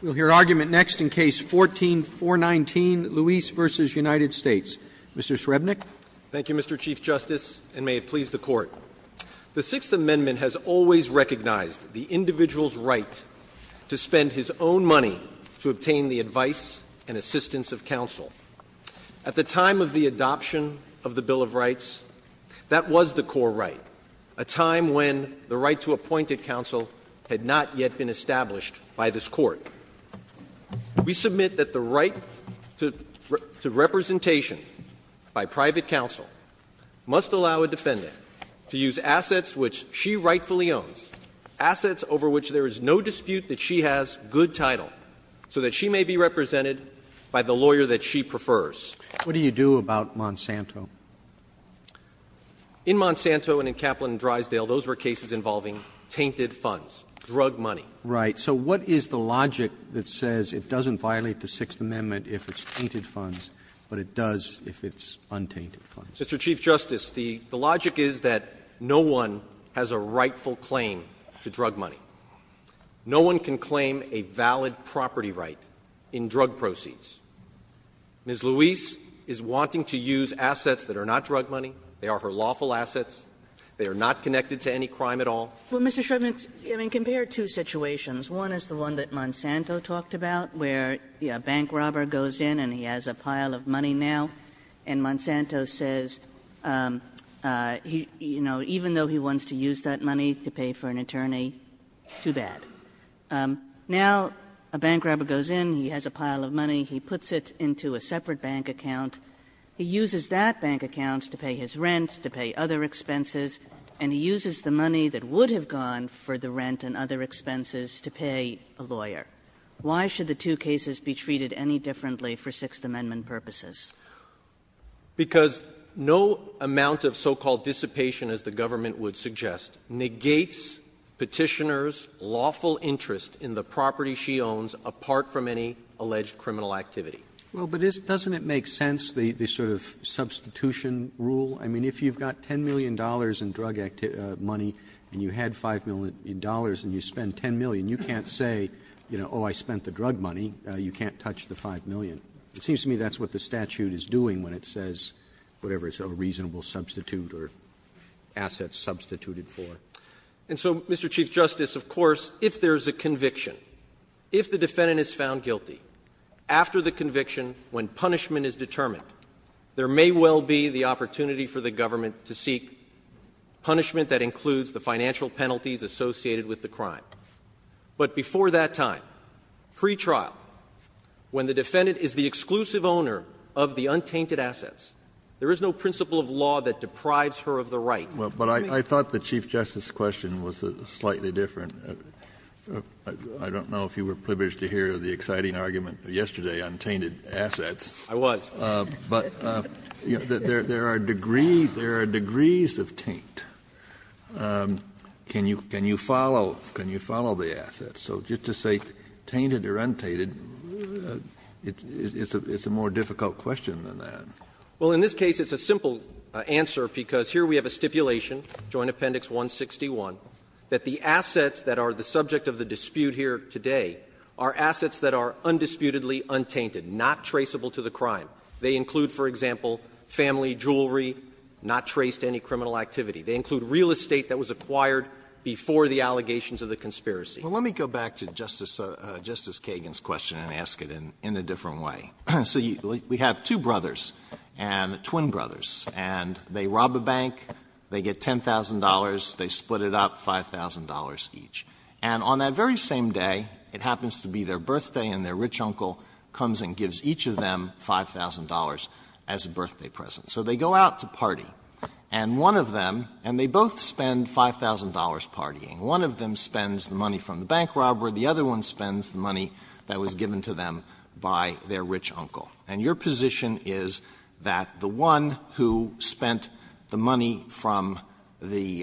We'll hear argument next in Case 14-419, Luis v. United States. Mr. Shrebnick. Thank you, Mr. Chief Justice, and may it please the Court. The Sixth Amendment has always recognized the individual's right to spend his own money to obtain the advice and assistance of counsel. At the time of the adoption of the Bill of Rights, that was the core right, a time when the right to appointed counsel had not yet been established by this Court. We submit that the right to representation by private counsel must allow a defendant to use assets which she rightfully owns, assets over which there is no dispute that she has good title, so that she may be represented by the lawyer that she prefers. What do you do about Monsanto? In Monsanto and in Kaplan and Drysdale, those were cases involving tainted funds, drug money. Right. So what is the logic that says it doesn't violate the Sixth Amendment if it's tainted funds, but it does if it's untainted funds? Mr. Chief Justice, the logic is that no one has a rightful claim to drug money. No one can claim a valid property right in drug proceeds. Ms. Luis is wanting to use assets that are not drug money. They are her lawful assets. They are not connected to any crime at all. Kagan. Well, Mr. Shribman, I mean, compare two situations. One is the one that Monsanto talked about, where a bank robber goes in and he has a pile of money now, and Monsanto says, you know, even though he wants to use that money to pay for an attorney, too bad. Now a bank robber goes in, he has a pile of money. He puts it into a separate bank account. He uses that bank account to pay his rent, to pay other expenses, and he uses the money that would have gone for the rent and other expenses to pay a lawyer. Why should the two cases be treated any differently for Sixth Amendment purposes? Because no amount of so-called dissipation, as the government would suggest, negates Petitioner's lawful interest in the property she owns apart from any alleged criminal activity. Well, but doesn't it make sense, the sort of substitution rule? I mean, if you've got $10 million in drug money and you had $5 million and you spend $10 million, you can't say, you know, oh, I spent the drug money, you can't touch the $5 million. It seems to me that's what the statute is doing when it says whatever is a reasonable substitute or assets substituted for. And so, Mr. Chief Justice, of course, if there is a conviction, if the defendant is found guilty, after the conviction, when punishment is determined, there may well be the opportunity for the government to seek punishment that includes the financial penalties associated with the crime. But before that time, pretrial, when the defendant is the exclusive owner of the untainted assets, there is no principle of law that deprives her of the right. But I thought the Chief Justice's question was slightly different. Kennedy, I don't know if you were privileged to hear the exciting argument yesterday on tainted assets. I was. But there are degrees of taint. Can you follow the assets? So just to say tainted or untainted, it's a more difficult question than that. Well, in this case, it's a simple answer, because here we have a stipulation, Joint Appendix 161, that the assets that are the subject of the dispute here today are assets that are undisputedly untainted, not traceable to the crime. They include, for example, family jewelry, not traced to any criminal activity. They include real estate that was acquired before the allegations of the conspiracy. Well, let me go back to Justice Kagan's question and ask it in a different way. So we have two brothers, twin brothers, and they rob a bank. They get $10,000. They split it up, $5,000 each. And on that very same day, it happens to be their birthday, and their rich uncle comes and gives each of them $5,000 as a birthday present. So they go out to party, and one of them, and they both spend $5,000 partying. One of them spends the money from the bank robbery. The other one spends the money that was given to them by their rich uncle. And your position is that the one who spent the money from the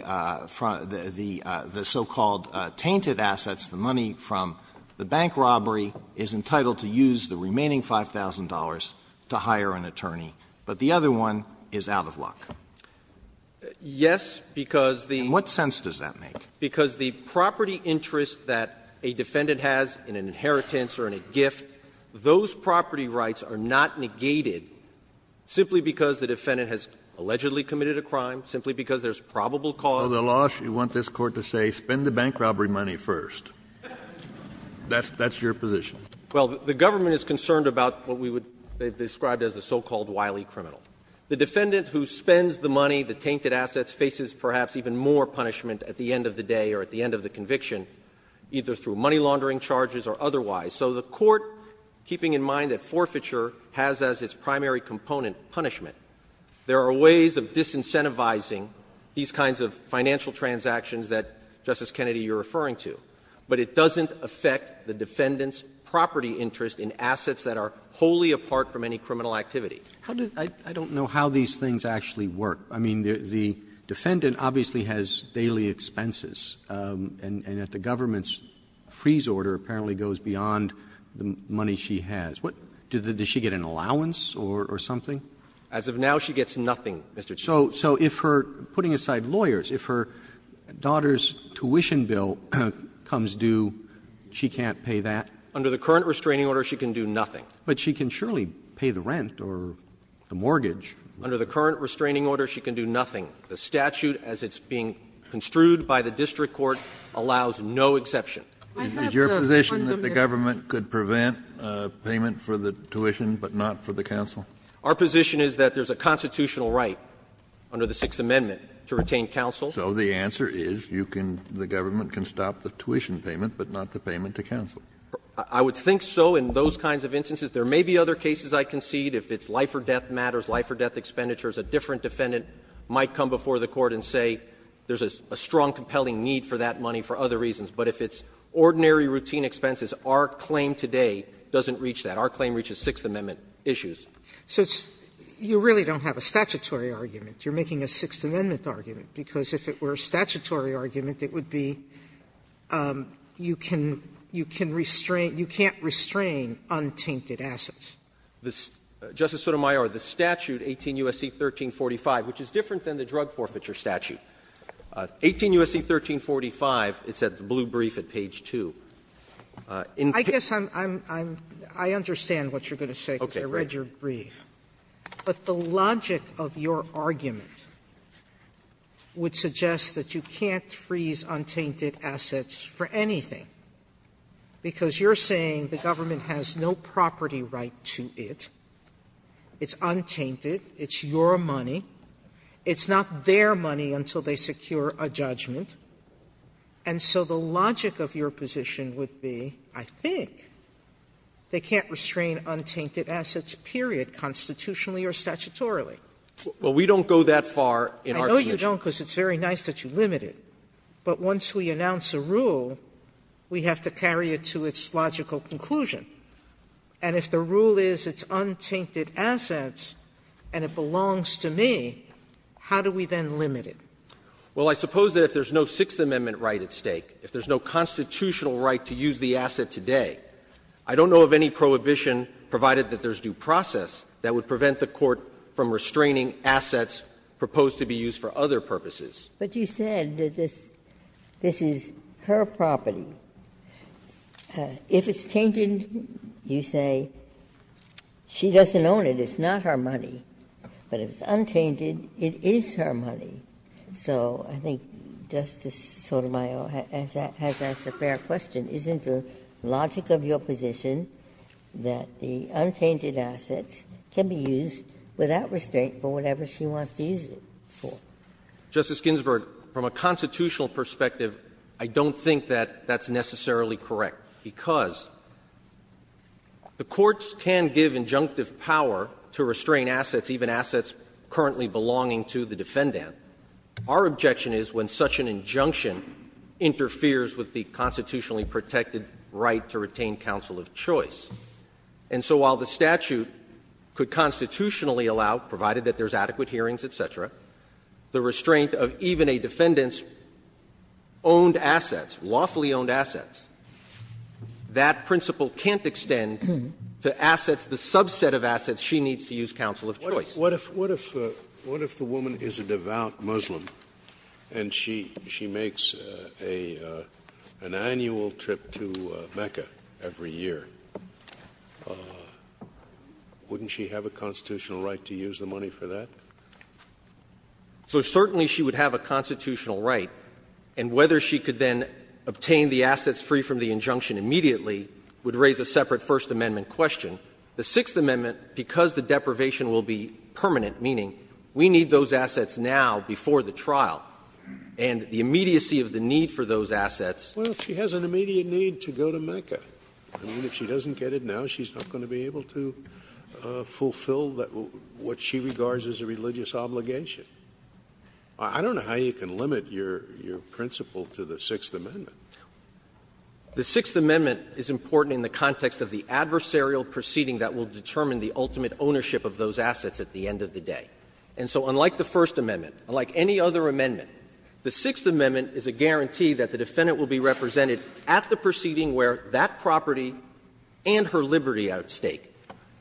so-called tainted assets, the money from the bank robbery, is entitled to use the remaining $5,000 to hire an attorney, but the other one is out of luck. Yes, because the — And what sense does that make? Because the property interest that a defendant has in an inheritance or in a gift, those property rights are not negated simply because the defendant has allegedly committed a crime, simply because there's probable cause. So the law should want this Court to say, spend the bank robbery money first. That's your position. Well, the government is concerned about what we would describe as the so-called wily criminal. The defendant who spends the money, the tainted assets, faces perhaps even more punishment at the end of the day or at the end of the conviction, either through money laundering charges or otherwise. So the Court, keeping in mind that forfeiture has as its primary component punishment, there are ways of disincentivizing these kinds of financial transactions that, Justice Kennedy, you're referring to. But it doesn't affect the defendant's property interest in assets that are wholly apart from any criminal activity. How does — I don't know how these things actually work. I mean, the defendant obviously has daily expenses, and if the government's money is beyond the money she has, does she get an allowance or something? As of now, she gets nothing, Mr. Chief Justice. So if her — putting aside lawyers, if her daughter's tuition bill comes due, she can't pay that? Under the current restraining order, she can do nothing. But she can surely pay the rent or the mortgage. Under the current restraining order, she can do nothing. The statute, as it's being construed by the district court, allows no exception. Kennedy, is your position that the government could prevent payment for the tuition, but not for the counsel? Our position is that there's a constitutional right under the Sixth Amendment to retain counsel. So the answer is you can — the government can stop the tuition payment, but not the payment to counsel. I would think so in those kinds of instances. There may be other cases I concede. If it's life or death matters, life or death expenditures, a different defendant might come before the court and say there's a strong, compelling need for that money for other reasons. But if it's ordinary, routine expenses, our claim today doesn't reach that. Our claim reaches Sixth Amendment issues. So it's — you really don't have a statutory argument. You're making a Sixth Amendment argument, because if it were a statutory argument, it would be you can — you can't restrain untainted assets. Justice Sotomayor, the statute, 18 U.S.C. 1345, which is different than the drug forfeiture statute, 18 U.S.C. 1345, it's at the blue brief at page 2. Sotomayor, I guess I'm — I understand what you're going to say, because I read your brief. But the logic of your argument would suggest that you can't freeze untainted assets for anything, because you're saying the government has no property right to it, it's untainted, it's your money. It's not their money until they secure a judgment. And so the logic of your position would be, I think, they can't restrain untainted assets, period, constitutionally or statutorily. Well, we don't go that far in our position. I know you don't, because it's very nice that you limit it. But once we announce a rule, we have to carry it to its logical conclusion. And if the rule is it's untainted assets and it belongs to me, how do we then limit it? Well, I suppose that if there's no Sixth Amendment right at stake, if there's no constitutional right to use the asset today, I don't know of any prohibition, provided that there's due process, that would prevent the Court from restraining assets proposed to be used for other purposes. Ginsburg. But you said that this is her property. If it's tainted, you say, she doesn't own it, it's not her money. But if it's untainted, it is her money. So I think Justice Sotomayor has asked a fair question. Isn't the logic of your position that the untainted assets can be used without restraint for whatever she wants to use it for? Justice Ginsburg, from a constitutional perspective, I don't think that that's necessarily correct, because the courts can give injunctive power to restrain assets, even assets currently belonging to the defendant. Our objection is when such an injunction interferes with the constitutionally protected right to retain counsel of choice. And so while the statute could constitutionally allow, provided that there's adequate time for hearings, et cetera, the restraint of even a defendant's owned assets, lawfully owned assets, that principle can't extend to assets, the subset of assets she needs to use counsel of choice. Scalia. What if the woman is a devout Muslim and she makes an annual trip to Mecca every year, wouldn't she have a constitutional right to use the money for that? So certainly she would have a constitutional right, and whether she could then obtain the assets free from the injunction immediately would raise a separate First Amendment question. The Sixth Amendment, because the deprivation will be permanent, meaning we need those assets now before the trial, and the immediacy of the need for those assets. Scalia. Well, she has an immediate need to go to Mecca. I mean, if she doesn't get it now, she's not going to be able to fulfill what she regards as a religious obligation. I don't know how you can limit your principle to the Sixth Amendment. The Sixth Amendment is important in the context of the adversarial proceeding that will determine the ultimate ownership of those assets at the end of the day. And so unlike the First Amendment, unlike any other amendment, the Sixth Amendment is a guarantee that the defendant will be represented at the proceeding where that property and her liberty outstay.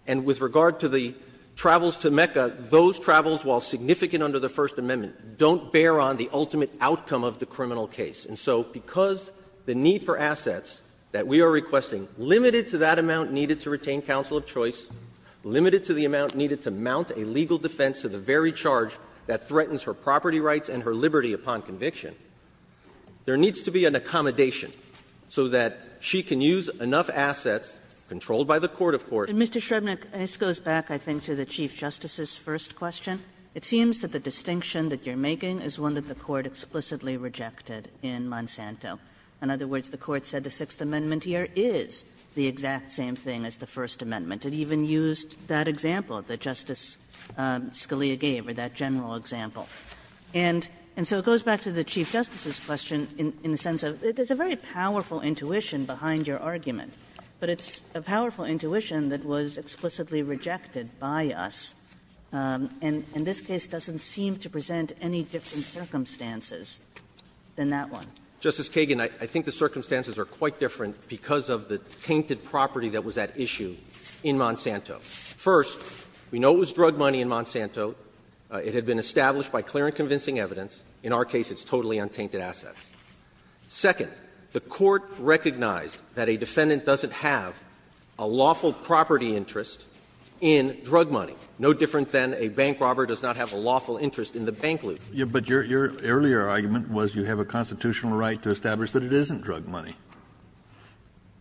And with regard to the travels to Mecca, those travels, while significant under the First Amendment, don't bear on the ultimate outcome of the criminal case. And so because the need for assets that we are requesting, limited to that amount needed to retain counsel of choice, limited to the amount needed to mount a legal defense to the very charge that threatens her property rights and her liberty upon conviction, there needs to be an accommodation so that she can use enough assets, controlled by the court, of course. Kagan. Kagan. Kagan. And, Mr. Shrebnick, this goes back, I think, to the Chief Justice's first question. It seems that the distinction that you're making is one that the Court explicitly rejected in Monsanto. In other words, the Court said the Sixth Amendment here is the exact same thing as the First Amendment. It even used that example that Justice Scalia gave, or that general example. And so it goes back to the Chief Justice's question in the sense of there's a very similar distinction, but it's a powerful intuition that was explicitly rejected by us, and this case doesn't seem to present any different circumstances than that one. Justice Kagan, I think the circumstances are quite different because of the tainted property that was at issue in Monsanto. First, we know it was drug money in Monsanto. It had been established by clear and convincing evidence. In our case, it's totally untainted assets. Second, the Court recognized that a defendant doesn't have a lawful property interest in drug money, no different than a bank robber does not have a lawful interest in the bank loot. Kennedy, but your earlier argument was you have a constitutional right to establish that it isn't drug money.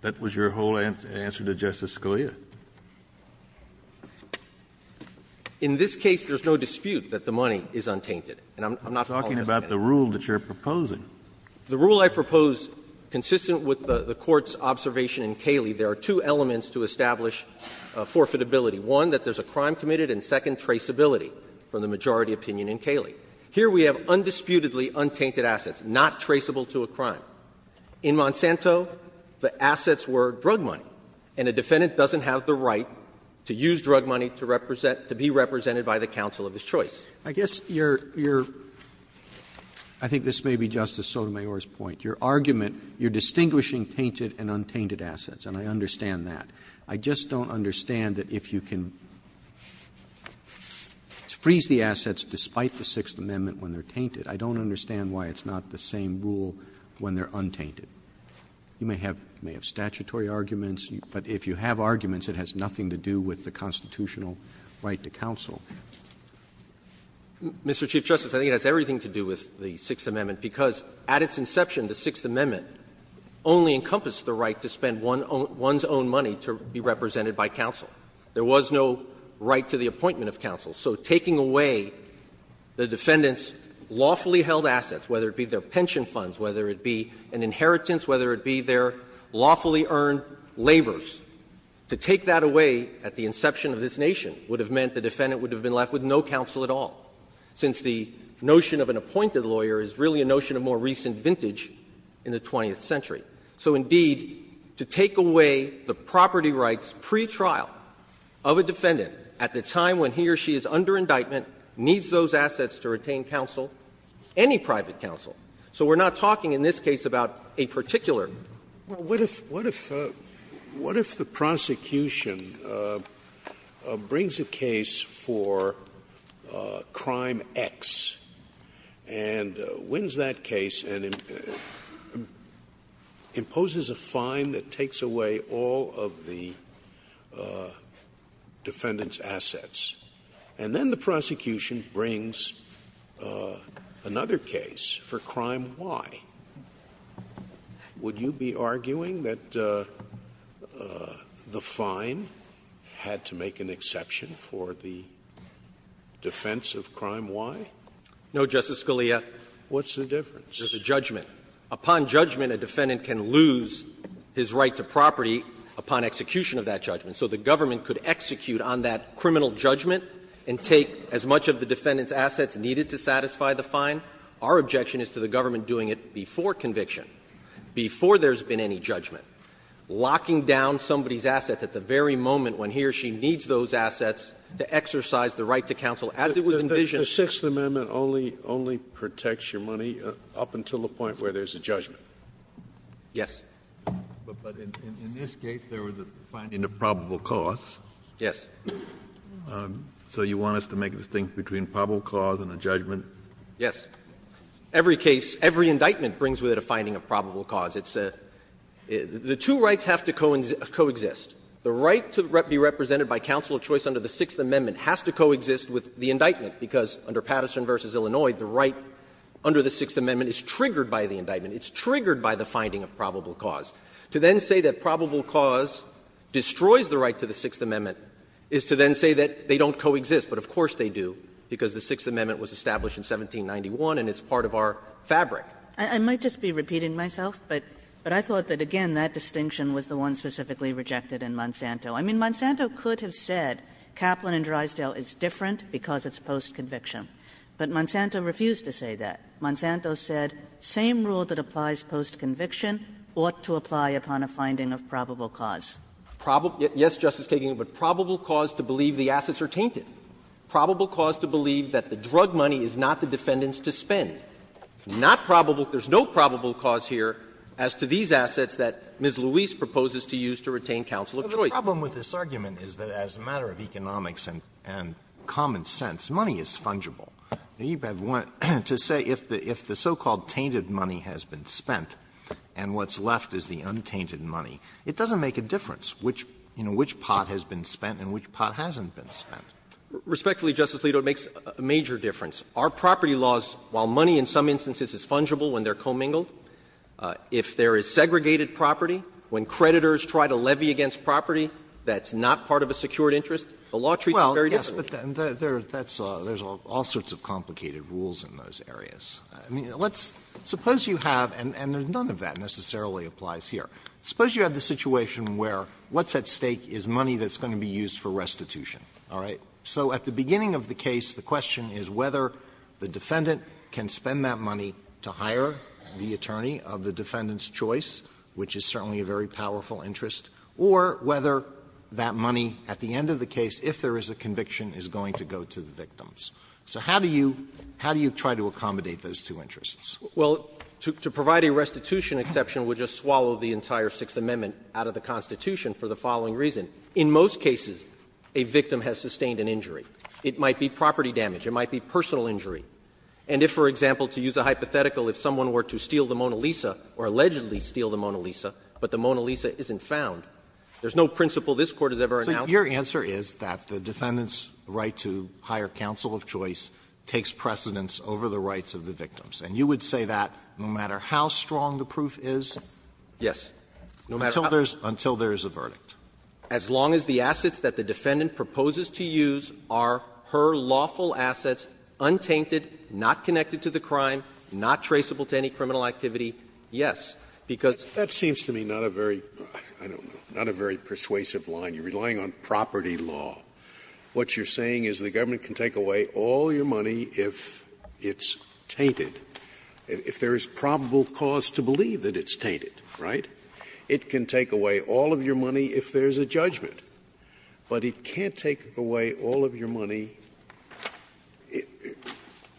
That was your whole answer to Justice Scalia. In this case, there's no dispute that the money is untainted, and I'm not calling you out on that. I'm just asking about the rule that you're proposing. The rule I propose, consistent with the Court's observation in Cayley, there are two elements to establish forfeitability. One, that there's a crime committed, and second, traceability, from the majority opinion in Cayley. Here we have undisputedly untainted assets, not traceable to a crime. In Monsanto, the assets were drug money, and a defendant doesn't have the right to use drug money to represent to be represented by the counsel of his choice. Roberts, I guess your – I think this may be Justice Sotomayor's point. Your argument, you're distinguishing tainted and untainted assets, and I understand that. I just don't understand that if you can freeze the assets despite the Sixth Amendment when they're tainted, I don't understand why it's not the same rule when they're untainted. You may have statutory arguments, but if you have arguments, it has nothing to do with the constitutional right to counsel. Mr. Chief Justice, I think it has everything to do with the Sixth Amendment, because at its inception, the Sixth Amendment only encompassed the right to spend one's own money to be represented by counsel. There was no right to the appointment of counsel. So taking away the defendant's lawfully held assets, whether it be their pension funds, whether it be an inheritance, whether it be their lawfully earned labors, to take that away at the inception of this nation would have meant the defendant would have been left with no counsel at all, since the notion of an appointed lawyer is really a notion of more recent vintage in the 20th century. So indeed, to take away the property rights pretrial of a defendant at the time when he or she is under indictment, needs those assets to retain counsel, any private counsel. So we're not talking in this case about a particular. Scalia. Well, what if the prosecution brings a case for crime X and wins that case and imposes a fine that takes away all of the defendant's assets, and then the prosecution brings another case for crime Y? Would you be arguing that the fine had to make an exception for the defense of crime Y? No, Justice Scalia. What's the difference? There's a judgment. Upon judgment, a defendant can lose his right to property upon execution of that judgment. So the government could execute on that criminal judgment and take as much of the defendant's assets needed to satisfy the fine. Our objection is to the government doing it before conviction, before there's been any judgment, locking down somebody's assets at the very moment when he or she needs those assets to exercise the right to counsel as it was envisioned. The Sixth Amendment only protects your money up until the point where there's a judgment. Yes. But in this case, there was a finding of probable cause. Yes. So you want us to make a distinction between probable cause and a judgment? Yes. Every case, every indictment brings with it a finding of probable cause. It's a — the two rights have to coexist. The right to be represented by counsel of choice under the Sixth Amendment has to coexist with the indictment, because under Patterson v. Illinois, the right under the Sixth Amendment is triggered by the indictment. It's triggered by the finding of probable cause. To then say that probable cause destroys the right to the Sixth Amendment is to then say that they don't coexist, but of course they do, because the Sixth Amendment was established in 1791 and it's part of our fabric. I might just be repeating myself, but I thought that, again, that distinction was the one specifically rejected in Monsanto. I mean, Monsanto could have said Kaplan and Drysdale is different because it's post-conviction. But Monsanto refused to say that. Monsanto said, same rule that applies post-conviction ought to apply upon a finding of probable cause. Yes, Justice Kagan, but probable cause to believe the assets are tainted, probable cause to believe that the drug money is not the defendant's to spend, not probable – there's no probable cause here as to these assets that Ms. Luis proposes to use to retain counsel of choice. Alito, the problem with this argument is that as a matter of economics and common sense, money is fungible. To say if the so-called tainted money has been spent and what's left is the untainted money, it doesn't make a difference which pot has been spent and which pot hasn't been spent. Respectfully, Justice Alito, it makes a major difference. Our property laws, while money in some instances is fungible when they're commingled, if there is segregated property, when creditors try to levy against property that's not part of a secured interest, the law treats it very differently. Well, yes, but there's all sorts of complicated rules in those areas. I mean, let's – suppose you have, and none of that necessarily applies here. Suppose you have the situation where what's at stake is money that's going to be used for restitution, all right? So at the beginning of the case, the question is whether the defendant can spend that money to hire the attorney of the defendant's choice, which is certainly a very powerful interest, or whether that money at the end of the case, if there is a conviction, is going to go to the victims. So how do you – how do you try to accommodate those two interests? Well, to provide a restitution exception would just swallow the entire Sixth Amendment out of the Constitution for the following reason. In most cases, a victim has sustained an injury. It might be property damage. It might be personal injury. And if, for example, to use a hypothetical, if someone were to steal the Mona Lisa or allegedly steal the Mona Lisa, but the Mona Lisa isn't found, there's no principle this Court has ever announced. Alito, your answer is that the defendant's right to hire counsel of choice takes precedence over the rights of the victims. And you would say that no matter how strong the proof is? Yes. No matter how strong. Until there's a verdict. As long as the assets that the defendant proposes to use are her lawful assets, untainted, not connected to the crime, not traceable to any criminal activity, yes. Because that seems to me not a very – I don't know – not a very persuasive line. You're relying on property law. What you're saying is the government can take away all your money if it's tainted, if there is probable cause to believe that it's tainted, right? It can take away all of your money if there's a judgment. But it can't take away all of your money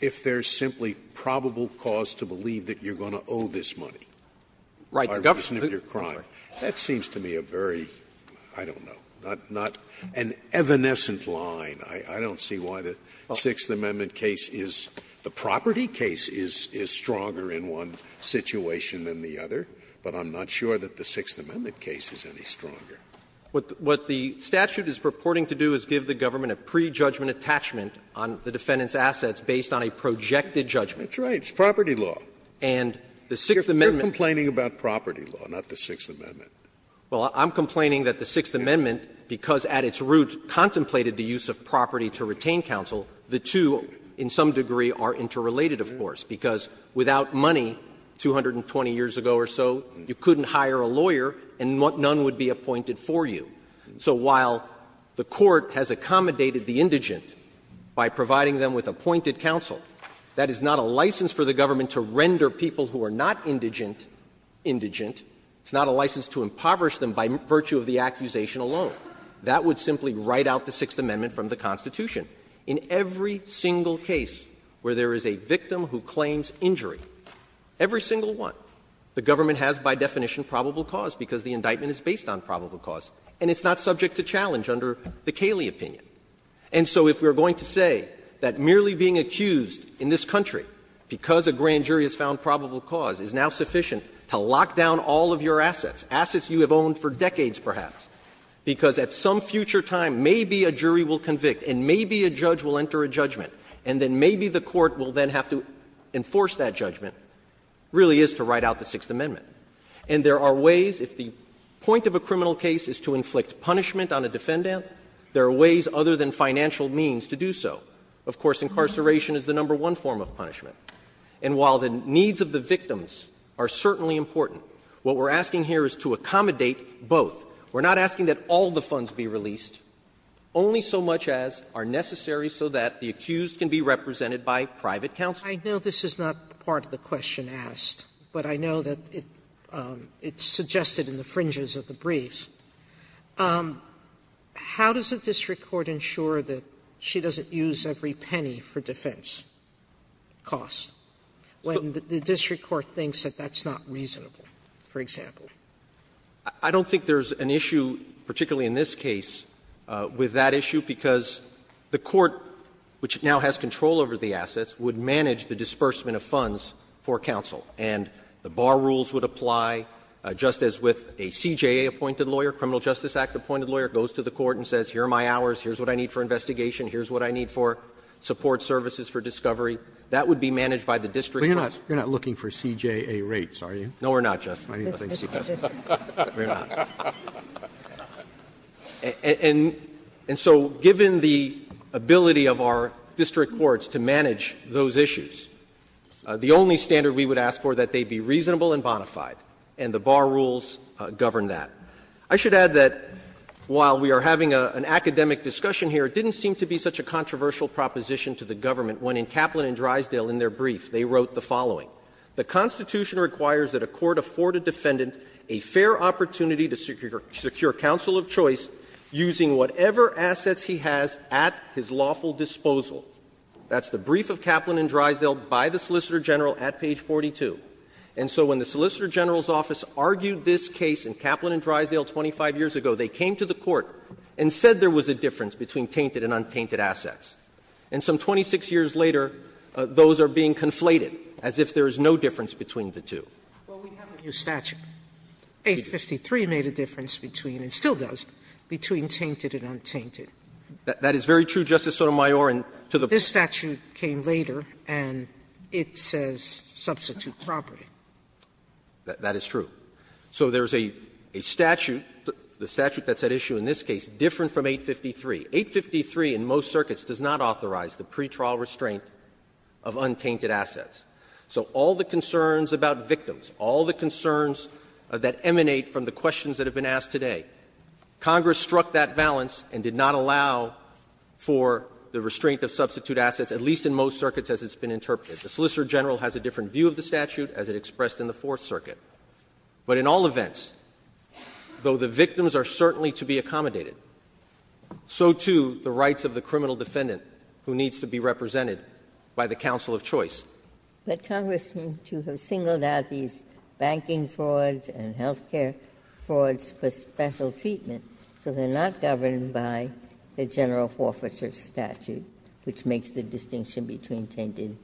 if there's simply probable cause to believe that you're going to owe this money. Right, Your Honor. That seems to me a very, I don't know, not an evanescent line. I don't see why the Sixth Amendment case is – the property case is stronger in one situation than the other, but I'm not sure that the Sixth Amendment case is any stronger. What the statute is purporting to do is give the government a pre-judgment attachment on the defendant's assets based on a projected judgment. That's right. It's property law. And the Sixth Amendment – You're complaining about property law, not the Sixth Amendment. Well, I'm complaining that the Sixth Amendment, because at its root contemplated the use of property to retain counsel, the two in some degree are interrelated, of course, because without money 220 years ago or so, you couldn't hire a lawyer and none would be appointed for you. So while the court has accommodated the indigent by providing them with appointed counsel, that is not a license for the government to render people who are not indigent indigent. It's not a license to impoverish them by virtue of the accusation alone. That would simply write out the Sixth Amendment from the Constitution. In every single case where there is a victim who claims injury, every single one, the government has by definition probable cause because the indictment is based on probable cause and it's not subject to challenge under the Cayley opinion. And so if we are going to say that merely being accused in this country because a grand jury has found probable cause is now sufficient to lock down all of your assets, assets you have owned for decades perhaps, because at some future time maybe a jury will convict and maybe a judge will enter a judgment and then maybe the court will then have to enforce that judgment, really is to write out the Sixth Amendment. And there are ways, if the point of a criminal case is to inflict punishment on a defendant, there are ways other than financial means to do so. Of course, incarceration is the number one form of punishment. And while the needs of the victims are certainly important, what we're asking here is to accommodate both. We're not asking that all the funds be released, only so much as are necessary so that the accused can be represented by private counsel. Sotomayor, I know this is not part of the question asked, but I know that it's suggested in the fringes of the briefs. How does the district court ensure that she doesn't use every penny for defense costs when the district court thinks that that's not reasonable, for example? I don't think there's an issue, particularly in this case, with that issue, because the court, which now has control over the assets, would manage the disbursement of funds for counsel. And the bar rules would apply, just as with a CJA-appointed lawyer, Criminal Justice Act-appointed lawyer, goes to the court and says, here are my hours, here's what I need for investigation, here's what I need for support services for discovery. That would be managed by the district court. Roberts. You're not looking for CJA rates, are you? No, we're not, Justice. I need nothing to suggest that. We're not. And so given the ability of our district courts to manage those issues, the only standard we would ask for, that they be reasonable and bona fide, and the bar rules govern that. I should add that while we are having an academic discussion here, it didn't seem to be such a controversial proposition to the government when in Kaplan and Drysdale, in their brief, they wrote the following. The Constitution requires that a court afford a defendant a fair opportunity to secure counsel of choice using whatever assets he has at his lawful disposal. That's the brief of Kaplan and Drysdale by the Solicitor General at page 42. And so when the Solicitor General's office argued this case in Kaplan and Drysdale 25 years ago, they came to the court and said there was a difference between tainted and untainted assets. And some 26 years later, those are being conflated as if there is no difference between the two. Sotomayor, this statute came later and it says substitute property. That is true. So there is a statute, the statute that's at issue in this case, different from 853. 853 in most circuits does not authorize the pretrial restraint of untainted assets. So all the concerns about victims, all the concerns that emanate from the questions that have been asked today, Congress struck that balance and did not allow for the restraint of substitute assets, at least in most circuits as it's been interpreted. The Solicitor General has a different view of the statute as it expressed in the Fourth Circuit. But in all events, though the victims are certainly to be accommodated, so do the rights of the criminal defendant who needs to be represented by the counsel of choice. But Congress seemed to have singled out these banking frauds and health care frauds for special treatment, so they are not governed by the general forfeiture statute, which makes the distinction between tainted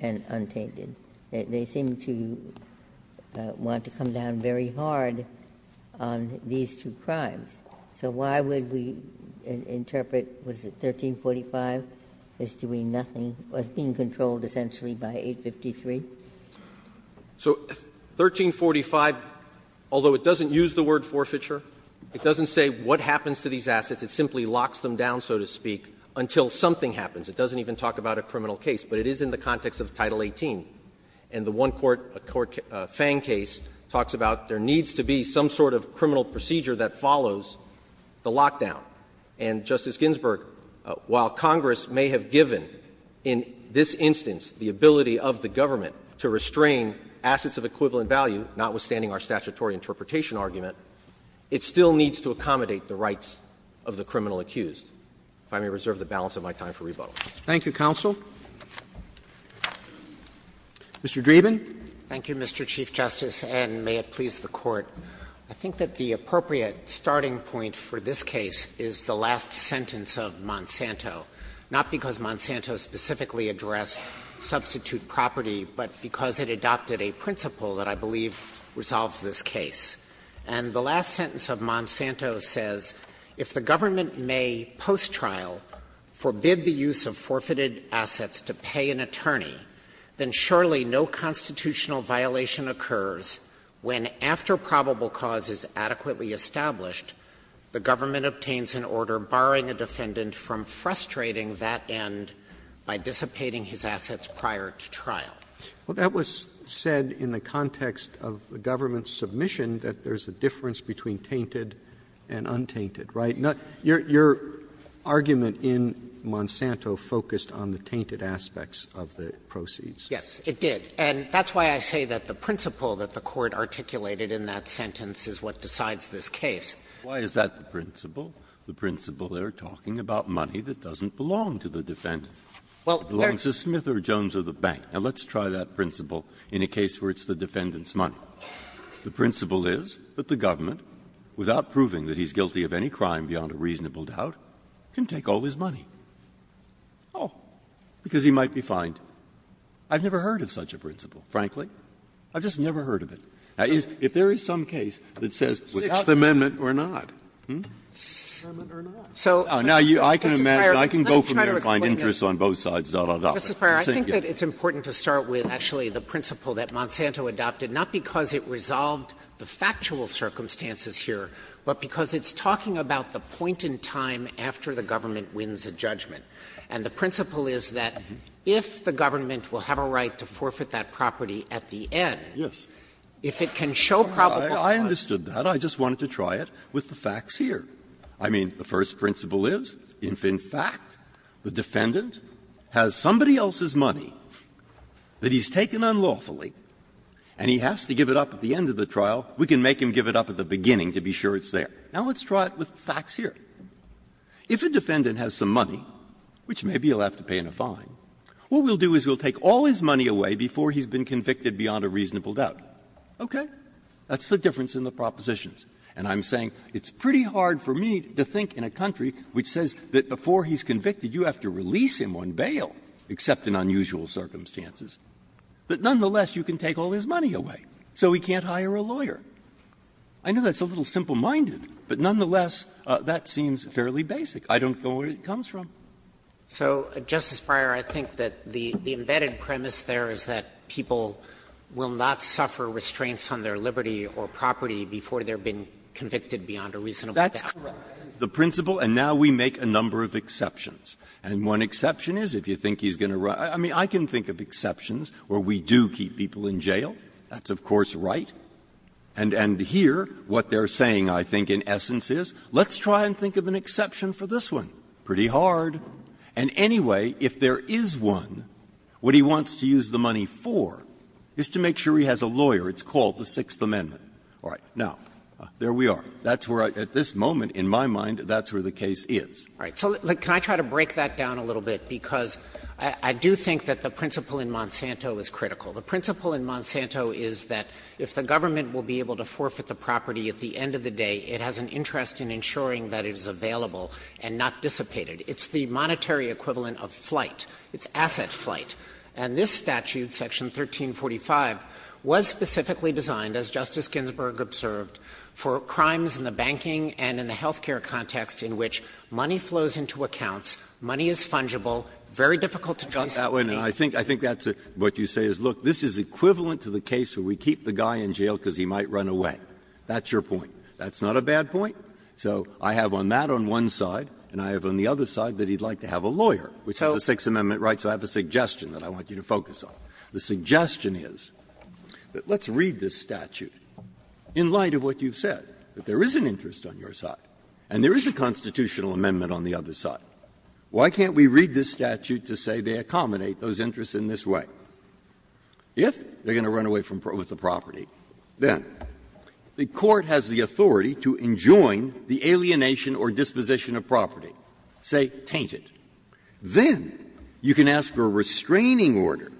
and untainted. They seem to want to come down very hard on these two crimes. So why would we interpret, was it 1345, as doing nothing, as being controlled essentially by 853? So 1345, although it doesn't use the word forfeiture, it doesn't say what happens to these assets. It simply locks them down, so to speak, until something happens. It doesn't even talk about a criminal case, but it is in the context of Title 18. And the one-court Fang case talks about there needs to be some sort of criminal procedure that follows the lockdown. And, Justice Ginsburg, while Congress may have given in this instance the ability of the government to restrain assets of equivalent value, notwithstanding our statutory interpretation argument, it still needs to accommodate the rights of the criminal accused. If I may reserve the balance of my time for rebuttal. Roberts. Thank you, counsel. Mr. Dreeben. Dreeben. Thank you, Mr. Chief Justice, and may it please the Court. I think that the appropriate starting point for this case is the last sentence of Monsanto, not because Monsanto specifically addressed substitute property, but because it adopted a principle that I believe resolves this case. And the last sentence of Monsanto says, If the government may post-trial forbid the use of forfeited assets to pay an attorney, then surely no constitutional violation occurs when, after probable cause is adequately established, the government obtains an order barring a defendant from frustrating that end by dissipating his assets prior to trial. Roberts. Well, that was said in the context of the government's submission that there's a difference between tainted and untainted, right? Your argument in Monsanto focused on the tainted aspects of the proceeds. Yes, it did. And that's why I say that the principle that the Court articulated in that sentence is what decides this case. Why is that the principle? The principle there talking about money that doesn't belong to the defendant. It belongs to Smith or Jones or the bank. Now, let's try that principle in a case where it's the defendant's money. The principle is that the government, without proving that he's guilty of any crime beyond a reasonable doubt, can take all his money, all, because he might be fined. I've never heard of such a principle, frankly. I've just never heard of it. Now, if there is some case that says without the amendment or not, hmm? Now, I can imagine, I can go from there and find interest on both sides, da, da, da. Sotomayor, I think that it's important to start with, actually, the principle that Monsanto adopted, not because it resolved the factual circumstances here, but because it's talking about the point in time after the government wins a judgment. And the principle is that if the government will have a right to forfeit that property at the end, if it can show probable cause. Breyer, I understood that. I just wanted to try it with the facts here. I mean, the first principle is if, in fact, the defendant has somebody else's money that he's taken unlawfully and he has to give it up at the end of the trial, we can make him give it up at the beginning to be sure it's there. Now, let's try it with facts here. If a defendant has some money, which maybe he'll have to pay in a fine, what we'll do is we'll take all his money away before he's been convicted beyond a reasonable doubt. Okay? That's the difference in the propositions. And I'm saying it's pretty hard for me to think in a country which says that before he's convicted, you have to release him on bail, except in unusual circumstances, that nonetheless you can take all his money away, so he can't hire a lawyer. I know that's a little simple-minded, but nonetheless, that seems fairly basic. I don't know where it comes from. So, Justice Breyer, I think that the embedded premise there is that people will not suffer restraints on their liberty or property before they're being convicted beyond a reasonable doubt. That's correct. That is the principle, and now we make a number of exceptions. And one exception is if you think he's going to run – I mean, I can think of exceptions where we do keep people in jail. That's, of course, right. And here, what they're saying, I think, in essence, is let's try and think of an exception for this one. Pretty hard. And anyway, if there is one, what he wants to use the money for is to make sure he has a lawyer. It's called the Sixth Amendment. All right. Now, there we are. That's where, at this moment, in my mind, that's where the case is. All right. So can I try to break that down a little bit? Because I do think that the principle in Monsanto is critical. The principle in Monsanto is that if the government will be able to forfeit the property at the end of the day, it has an interest in ensuring that it is available and not dissipated. It's the monetary equivalent of flight. It's asset flight. And this statute, Section 1345, was specifically designed, as Justice Ginsburg observed, for crimes in the banking and in the health care context in which money flows into accounts, money is fungible, very difficult to justify. Breyer. And I think that's what you say is, look, this is equivalent to the case where we keep the guy in jail because he might run away. That's your point. That's not a bad point. So I have on that on one side, and I have on the other side that he would like to have a lawyer, which is the Sixth Amendment right. So I have a suggestion that I want you to focus on. The suggestion is that let's read this statute in light of what you've said, that there is an interest on your side and there is a constitutional amendment on the other side. Why can't we read this statute to say they accommodate those interests in this way? If they're going to run away with the property, then the court has the authority to enjoin the alienation or disposition of property, say, taint it. Then you can ask for a restraining order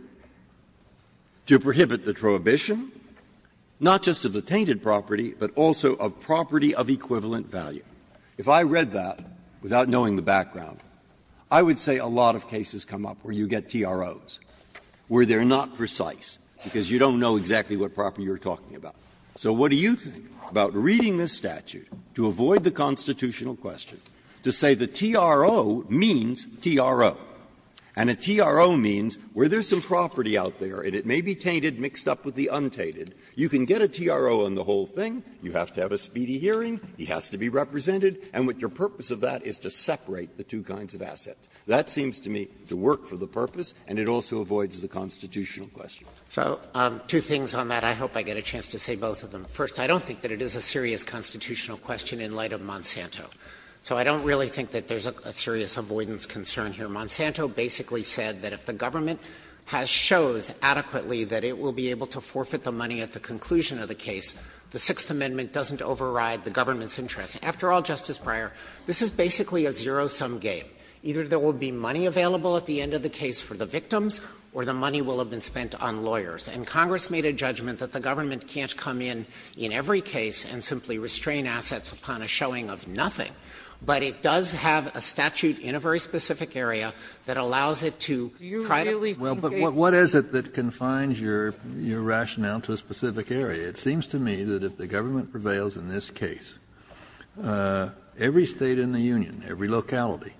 to prohibit the prohibition, not just of the tainted property, but also of property of equivalent value. If I read that without knowing the background, I would say a lot of cases come up where you get TROs, where they're not precise because you don't know exactly what property you're talking about. So what do you think about reading this statute to avoid the constitutional question, to say the TRO means TRO, and a TRO means where there's some property out there and it may be tainted, mixed up with the untainted, you can get a TRO on the whole thing, you have to have a speedy hearing, he has to be represented, and what your purpose of that is to separate the two kinds of assets. That seems to me to work for the purpose and it also avoids the constitutional question. Dreeben. Dreeben. Dreeben. So two things on that. I hope I get a chance to say both of them. First, I don't think that it is a serious constitutional question in light of Monsanto. So I don't really think that there's a serious avoidance concern here. Monsanto basically said that if the government has shows adequately that it will be able to forfeit the money at the conclusion of the case, the Sixth Amendment doesn't override the government's interests. After all, Justice Breyer, this is basically a zero-sum game. Either there will be money available at the end of the case for the victims or the money will have been spent on lawyers. And Congress made a judgment that the government can't come in in every case and simply restrain assets upon a showing of nothing, but it does have a statute in a very specific area that allows it to try to. Kennedy, what is it that confines your rationale to a specific area? It seems to me that if the government prevails in this case, every State in the union, every locality,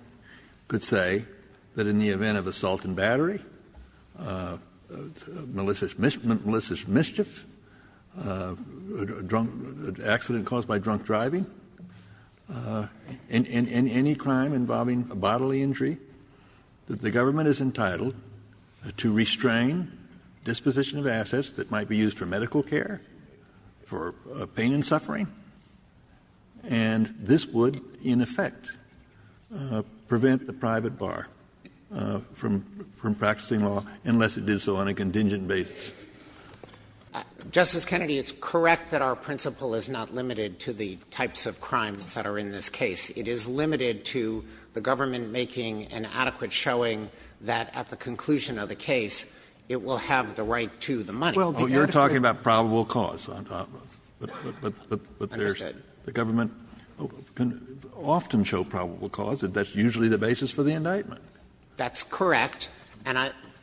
could say that in the event of assault and battery, malicious mischief, a drunk accident caused by drunk driving, and any crime involving a bodily injury, that the government is entitled to restrain disposition of assets that might be used for medical care, for pain and suffering, and this would, in effect, prevent the private bar from practicing law, unless it did so on a contingent basis. Justice Kennedy, it's correct that our principle is not limited to the types of crimes that are in this case. It is limited to the government making an adequate showing that at the conclusion of the case, it will have the right to the money. Kennedy, you're talking about probable cause on top of it. I understand. But the government can often show probable cause, and that's usually the basis for the indictment. That's correct. And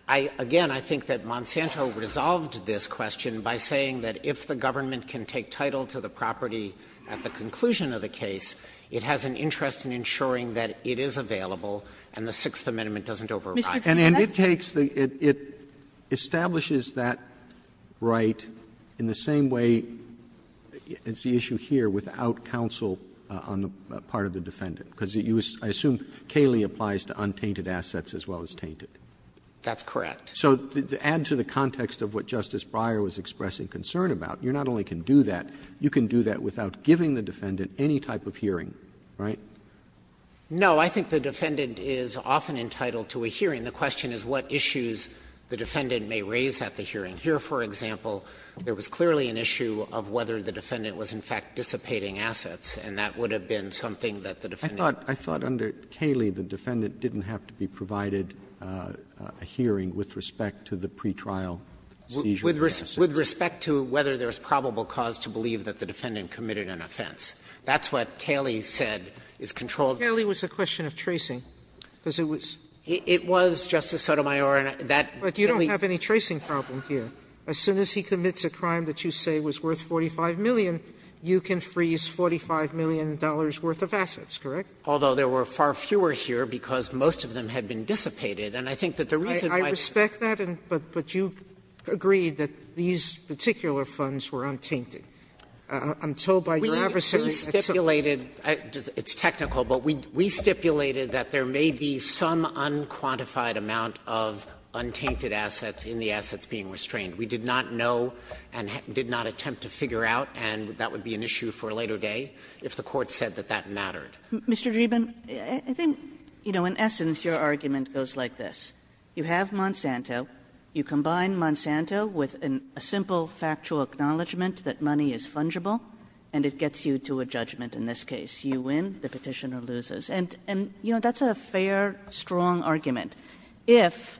I, again, I think that Monsanto resolved this question by saying that if the government can take title to the property at the conclusion of the case, it has an interest in ensuring that it is available and the Sixth Amendment doesn't override. And it takes the ‑‑ it establishes that right in the same way as the issue here without counsel on the part of the defendant, because I assume Cayley applies to untainted assets as well as tainted. That's correct. So to add to the context of what Justice Breyer was expressing concern about, you not only can do that, you can do that without giving the defendant any type of hearing, right? No. I think the defendant is often entitled to a hearing. The question is what issues the defendant may raise at the hearing. Here, for example, there was clearly an issue of whether the defendant was in fact dissipating assets, and that would have been something that the defendant— Roberts I thought under Cayley the defendant didn't have to be provided a hearing with respect to the pretrial seizure of assets. With respect to whether there's probable cause to believe that the defendant committed an offense. That's what Cayley said is controlled. Cayley was a question of tracing, because it was— It was, Justice Sotomayor, and that— But you don't have any tracing problem here. As soon as he commits a crime that you say was worth $45 million, you can freeze $45 million worth of assets, correct? Although there were far fewer here because most of them had been dissipated. And I think that the reason why— I respect that, but you agree that these particular funds were untainted. I'm told by your adversary that some— We stipulated, it's technical, but we stipulated that there may be some unquantified amount of untainted assets in the assets being restrained. We did not know and did not attempt to figure out, and that would be an issue for a later day, if the Court said that that mattered. Mr. Dreeben, I think, you know, in essence, your argument goes like this. You have Monsanto. You combine Monsanto with a simple factual acknowledgment that money is fungible, and it gets you to a judgment in this case. You win, the Petitioner loses. And, you know, that's a fair, strong argument, if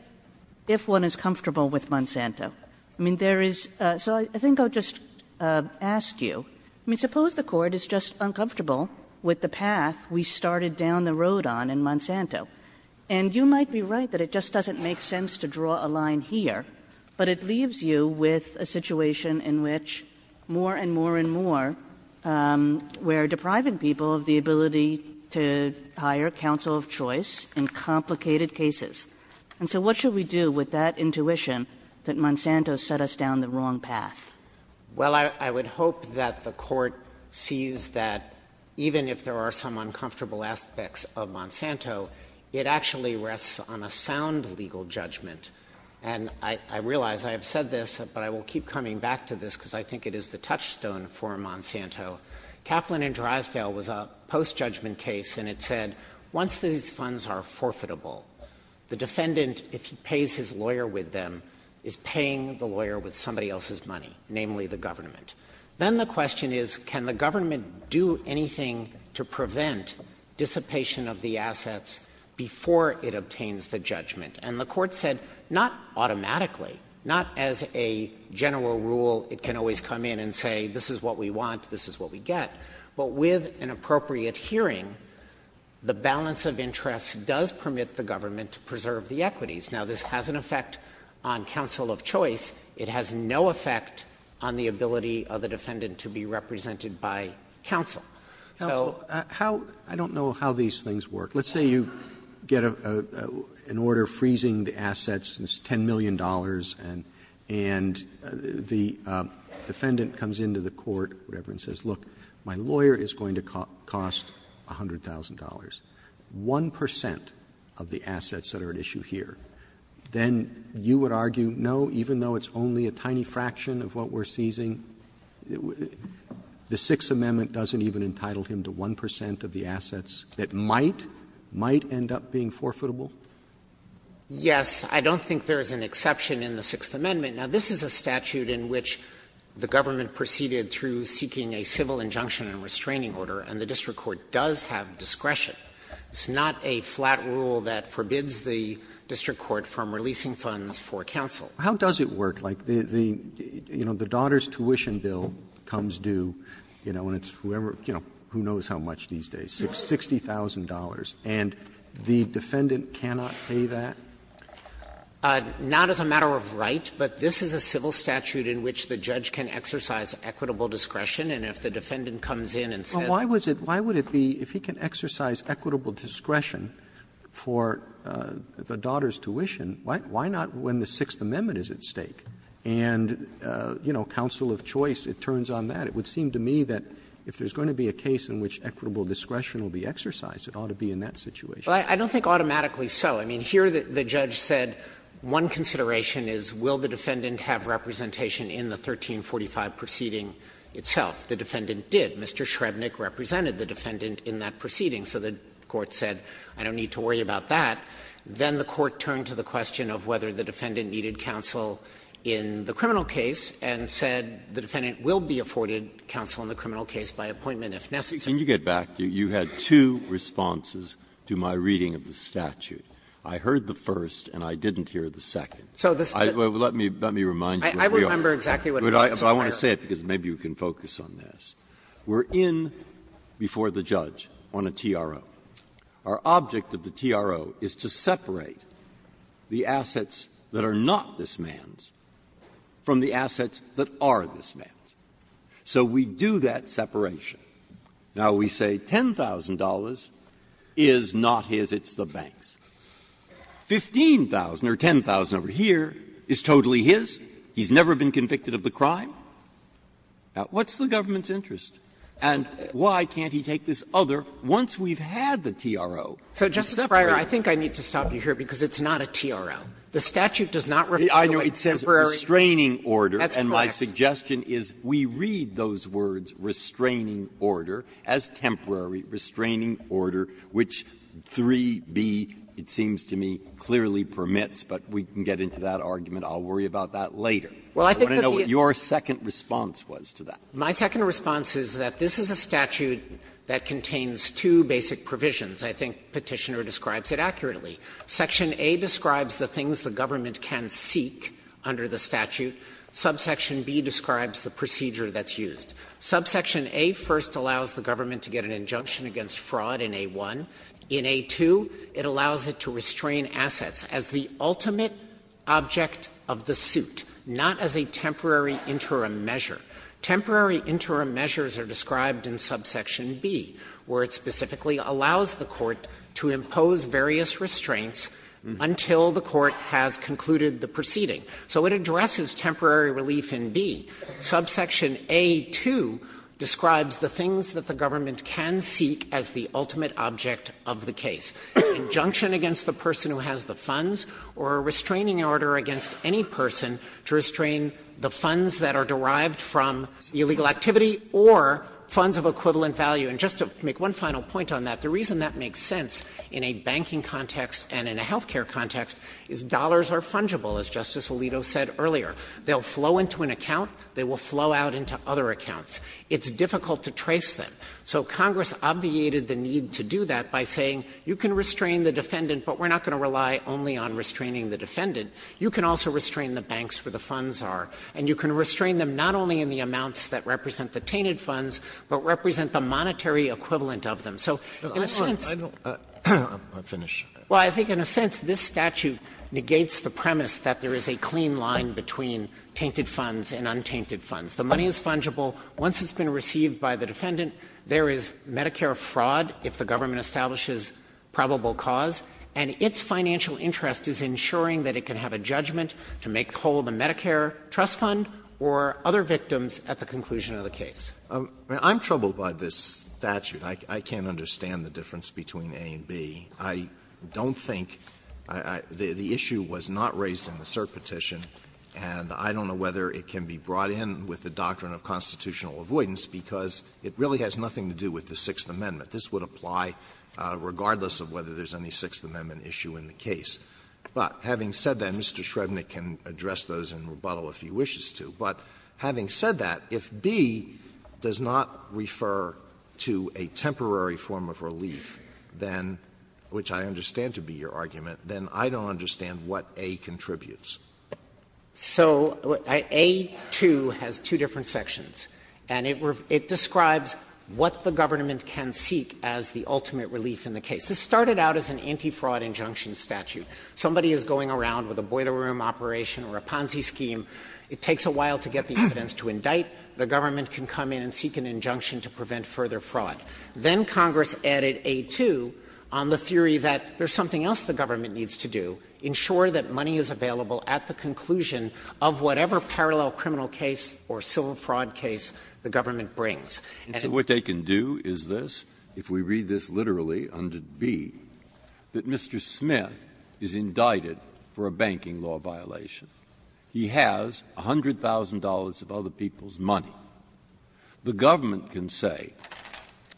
one is comfortable with Monsanto. I mean, there is — so I think I'll just ask you. I mean, suppose the Court is just uncomfortable with the path we started down the road on in Monsanto. And you might be right that it just doesn't make sense to draw a line here, but it leaves you with a situation in which more and more and more we're depriving people of the ability to hire counsel of choice in complicated cases. And so what should we do with that intuition that Monsanto set us down the wrong path? Dreeben, I think, you know, in essence, your argument goes like this. Well, I would hope that the Court sees that even if there are some uncomfortable aspects of Monsanto, it actually rests on a sound legal judgment. And I realize I have said this, but I will keep coming back to this, because I think it is the touchstone for Monsanto. Kaplan v. Drysdale was a post-judgment case, and it said, once these funds are forfeitable, the defendant, if he pays his lawyer with them, is paying the lawyer with somebody else's money. Namely, the government. Then the question is, can the government do anything to prevent dissipation of the assets before it obtains the judgment? And the Court said, not automatically, not as a general rule, it can always come in and say, this is what we want, this is what we get. But with an appropriate hearing, the balance of interest does permit the government to preserve the equities. Now, this has an effect on counsel of choice. It has no effect on the ability of the defendant to be represented by counsel. So how do I know how these things work? Let's say you get an order freezing the assets, and it's $10 million, and the defendant comes into the court, whatever, and says, look, my lawyer is going to cost $100,000. 1 percent of the assets that are at issue here. Then you would argue, no, even though it's only a tiny fraction of what we're seizing, the Sixth Amendment doesn't even entitle him to 1 percent of the assets that might end up being forfeitable? Dreeben. Yes. I don't think there is an exception in the Sixth Amendment. Now, this is a statute in which the government proceeded through seeking a civil injunction and restraining order, and the district court does have discretion. It's not a flat rule that forbids the district court from releasing funds for counsel. How does it work? Like the, you know, the daughter's tuition bill comes due, you know, and it's whoever you know, who knows how much these days, $60,000, and the defendant cannot pay that? Not as a matter of right, but this is a civil statute in which the judge can exercise Well, why would it be, if he can exercise equitable discretion for the daughter's tuition, why not when the Sixth Amendment is at stake? And, you know, counsel of choice, it turns on that. It would seem to me that if there's going to be a case in which equitable discretion will be exercised, it ought to be in that situation. Well, I don't think automatically so. I mean, here the judge said one consideration is will the defendant have representation in the 1345 proceeding itself. The defendant did. Mr. Shrebnick represented the defendant in that proceeding, so the court said, I don't need to worry about that. Then the court turned to the question of whether the defendant needed counsel in the criminal case and said the defendant will be afforded counsel in the criminal case by appointment if necessary. Breyer, you had two responses to my reading of the statute. I heard the first and I didn't hear the second. Let me remind you where we are. But I want to say it because maybe you can focus on this. We're in before the judge on a TRO. Our object of the TRO is to separate the assets that are not this man's from the assets that are this man's. So we do that separation. Now, we say $10,000 is not his, it's the bank's. $15,000 or $10,000 over here is totally his. He's never been convicted of the crime. Now, what's the government's interest? And why can't he take this other, once we've had the TRO, to separate? So, Justice Breyer, I think I need to stop you here because it's not a TRO. The statute does not refer to it as temporary. I know. It says restraining order. That's correct. And my suggestion is we read those words, restraining order, as temporary restraining order, which 3b, it seems to me, clearly permits, but we can get into that argument. I'll worry about that later. I want to know what your second response was to that. My second response is that this is a statute that contains two basic provisions. I think Petitioner describes it accurately. Section A describes the things the government can seek under the statute. Subsection B describes the procedure that's used. Subsection A first allows the government to get an injunction against fraud in A1. In A2, it allows it to restrain assets as the ultimate object of the suit, not as a temporary interim measure. Temporary interim measures are described in subsection B, where it specifically allows the court to impose various restraints until the court has concluded the proceeding. So it addresses temporary relief in B. Subsection A2 describes the things that the government can seek as the ultimate object of the case, injunction against the person who has the funds or a restraining order against any person to restrain the funds that are derived from illegal activity or funds of equivalent value. And just to make one final point on that, the reason that makes sense in a banking context and in a health care context is dollars are fungible, as Justice Alito said earlier. They'll flow into an account. They will flow out into other accounts. It's difficult to trace them. So Congress obviated the need to do that by saying, you can restrain the defendant, but we're not going to rely only on restraining the defendant. You can also restrain the banks where the funds are, and you can restrain them not only in the amounts that represent the tainted funds, but represent the monetary equivalent of them. So in a sense the statute negates the premise that there is a clean line between tainted funds and untainted funds. The money is fungible. Once it's been received by the defendant, there is Medicare fraud if the government establishes probable cause, and its financial interest is ensuring that it can have a judgment to make whole the Medicare trust fund or other victims at the conclusion of the case. Alito, I'm troubled by this statute. I can't understand the difference between A and B. I don't think the issue was not raised in the cert petition, and I don't know whether it can be brought in with the doctrine of constitutional avoidance, because it really has nothing to do with the Sixth Amendment. This would apply regardless of whether there is any Sixth Amendment issue in the case. But having said that, Mr. Shrevenick can address those and rebuttal if he wishes to. But having said that, if B does not refer to a temporary form of relief, then, which I understand to be your argument, then I don't understand what A contributes. Dreeben So A-2 has two different sections, and it describes what the government can seek as the ultimate relief in the case. This started out as an anti-fraud injunction statute. Somebody is going around with a boiler room operation or a Ponzi scheme. It takes a while to get the evidence to indict. The government can come in and seek an injunction to prevent further fraud. Then Congress added A-2 on the theory that there is something else the government needs to do, ensure that money is available at the conclusion of whatever parallel criminal case or civil fraud case the government brings. Breyer And so what they can do is this, if we read this literally under B, that Mr. Smith is indicted for a banking law violation. He has $100,000 of other people's money. The government can say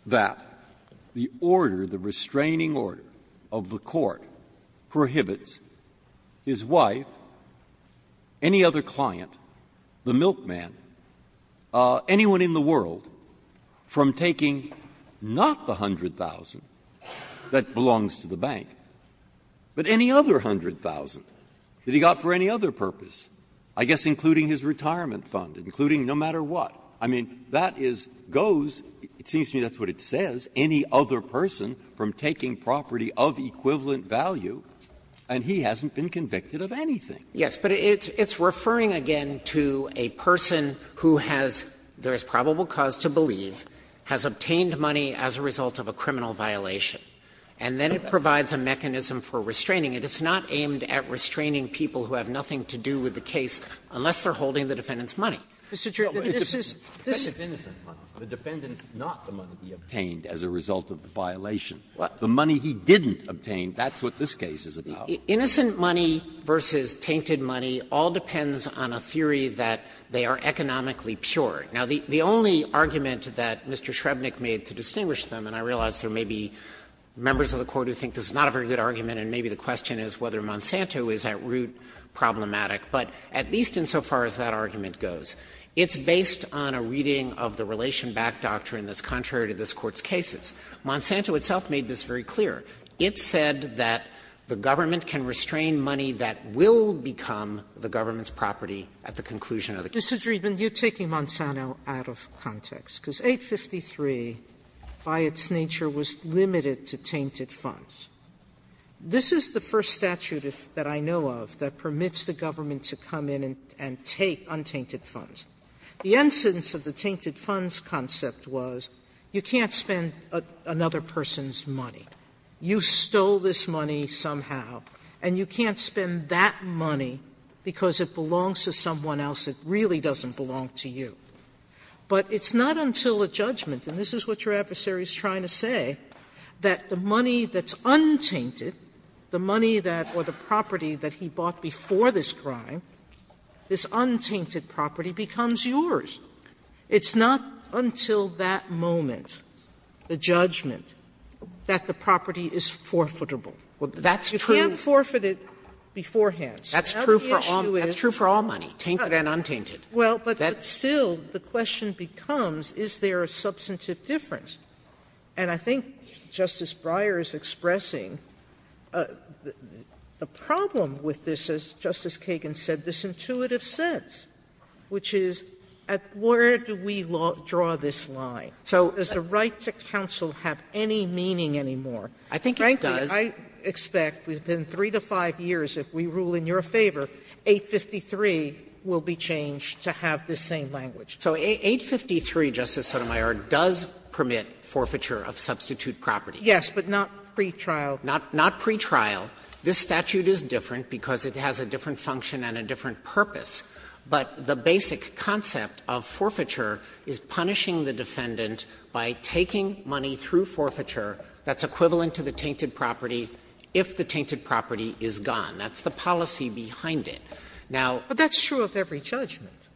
that the order, the restraining order of the court, which prohibits his wife, any other client, the milkman, anyone in the world, from taking not the $100,000 that belongs to the bank, but any other $100,000 that he got for any other purpose, I guess including his retirement fund, including no matter what. I mean, that is goes, it seems to me that's what it says, any other person from taking property of equivalent value, and he hasn't been convicted of anything. Dreeben Yes, but it's referring, again, to a person who has, there is probable cause to believe, has obtained money as a result of a criminal violation, and then it provides a mechanism for restraining it. It's not aimed at restraining people who have nothing to do with the case, unless they're holding the defendant's money. Breyer This is, this is, the defendant's, not the money obtained as a result of the violation. The money he didn't obtain, that's what this case is about. Dreeben Innocent money versus tainted money all depends on a theory that they are economically pure. Now, the only argument that Mr. Shrebnick made to distinguish them, and I realize there may be members of the Court who think this is not a very good argument, and maybe the question is whether Monsanto is at root problematic, but at least insofar as that argument goes, it's based on a reading of the Relation Back doctrine that's contrary to this Court's cases. Monsanto itself made this very clear. It said that the government can restrain money that will become the government's property at the conclusion of the case. Sotomayor Mr. Dreeben, you're taking Monsanto out of context, because 853, by its nature, was limited to tainted funds. This is the first statute that I know of that permits the government to come in and take untainted funds. The incidence of the tainted funds concept was you can't spend another person's money. You stole this money somehow, and you can't spend that money because it belongs to someone else that really doesn't belong to you. But it's not until a judgment, and this is what your adversary is trying to say, that the money that's untainted, the money that or the property that he bought before this crime, this untainted property becomes yours. It's not until that moment, the judgment, that the property is forfeitable. Sotomayor Well, that's true. Sotomayor You can't forfeit it beforehand. Sotomayor That's true for all money, tainted and untainted. Sotomayor Well, but still the question becomes, is there a substantive difference? And I think Justice Breyer is expressing the problem with this, as Justice Sotomayor said, this intuitive sense, which is where do we draw this line? So does the right to counsel have any meaning anymore? Sotomayor Frankly, I expect within 3 to 5 years, if we rule in your favor, 853 will be changed to have this same language. Dreeben So 853, Justice Sotomayor, does permit forfeiture of substitute property. Sotomayor Yes, but not pretrial. Dreeben Not pretrial. This statute is different because it has a different function and a different purpose, but the basic concept of forfeiture is punishing the defendant by taking money through forfeiture that's equivalent to the tainted property if the tainted property is gone. That's the policy behind it. Now ---- Sotomayor But that's true of every judgment.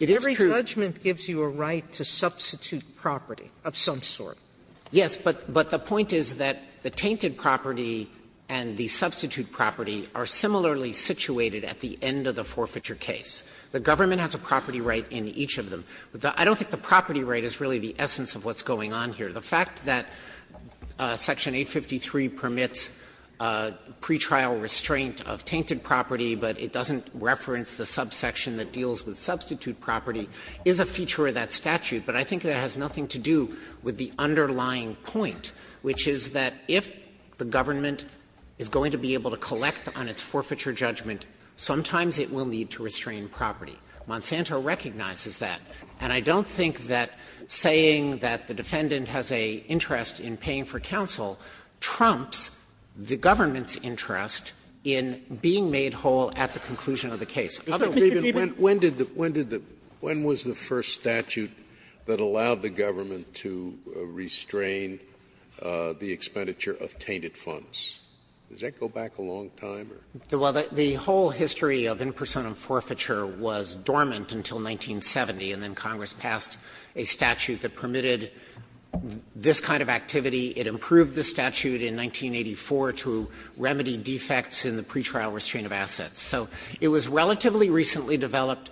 Dreeben It is true. Sotomayor Every judgment gives you a right to substitute property of some sort. Dreeben Yes, but the point is that the tainted property and the substitute property are similarly situated at the end of the forfeiture case. The government has a property right in each of them. I don't think the property right is really the essence of what's going on here. The fact that section 853 permits pretrial restraint of tainted property, but it doesn't reference the subsection that deals with substitute property, is a feature of that underlying point, which is that if the government is going to be able to collect on its forfeiture judgment, sometimes it will need to restrain property. Monsanto recognizes that. And I don't think that saying that the defendant has an interest in paying for counsel trumps the government's interest in being made whole at the conclusion of the case. Other ---- Scalia When did the ---- when did the ---- when was the first statute that allowed the government to restrain the expenditure of tainted funds? Does that go back a long time? Dreeben Well, the whole history of impersonum forfeiture was dormant until 1970, and then Congress passed a statute that permitted this kind of activity. It improved the statute in 1984 to remedy defects in the pretrial restraint of assets. So it was relatively recently developed,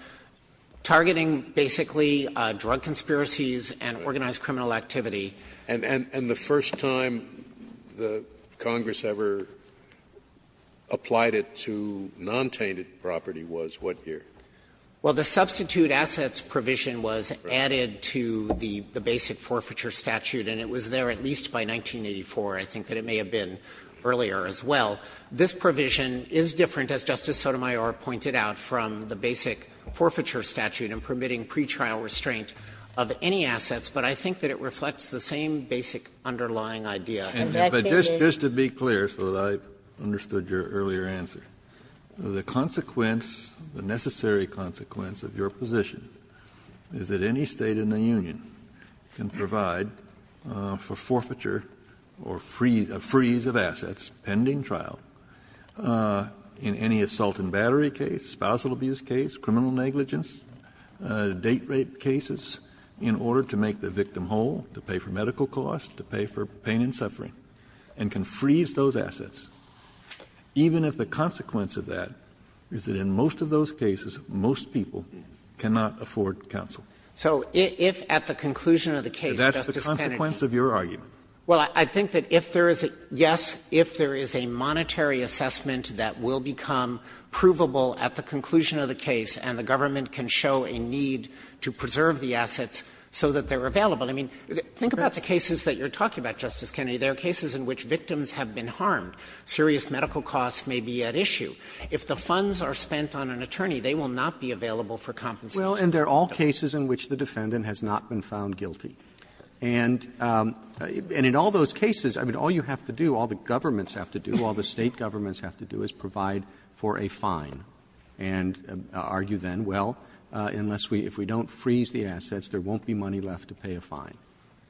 targeting basically drug conspiracies and organized criminal activity. Scalia And the first time Congress ever applied it to non-tainted property was what year? Dreeben Well, the substitute assets provision was added to the basic forfeiture statute, and it was there at least by 1984. I think that it may have been earlier as well. This provision is different, as Justice Sotomayor pointed out, from the basic forfeiture statute in permitting pretrial restraint of any assets, but I think that it reflects the same basic underlying idea. Kennedy And that's the ---- Kennedy But just to be clear so that I understood your earlier answer, the consequence the necessary consequence of your position is that any State in the union can provide for forfeiture or freeze of assets, pending trial, in any assault and battery case, spousal abuse case, criminal negligence, date rape cases, in order to make the victim whole, to pay for medical costs, to pay for pain and suffering, and can freeze those assets, even if the consequence of that is that in most of those cases, most people cannot afford counsel. Dreeben So if at the conclusion of the case, Justice Kennedy ---- Kennedy And that's the consequence of your argument. Dreeben Well, I think that if there is a ---- yes, if there is a monetary assessment that will become provable at the conclusion of the case and the government can show a need to preserve the assets so that they're available. I mean, think about the cases that you're talking about, Justice Kennedy. There are cases in which victims have been harmed. Serious medical costs may be at issue. If the funds are spent on an attorney, they will not be available for compensation of the victim. Well, and there are all cases in which the defendant has not been found guilty. And in all those cases, I mean, all you have to do, all the governments have to do, all the State governments have to do, is provide for a fine and argue then, well, unless we don't freeze the assets, there won't be money left to pay a fine.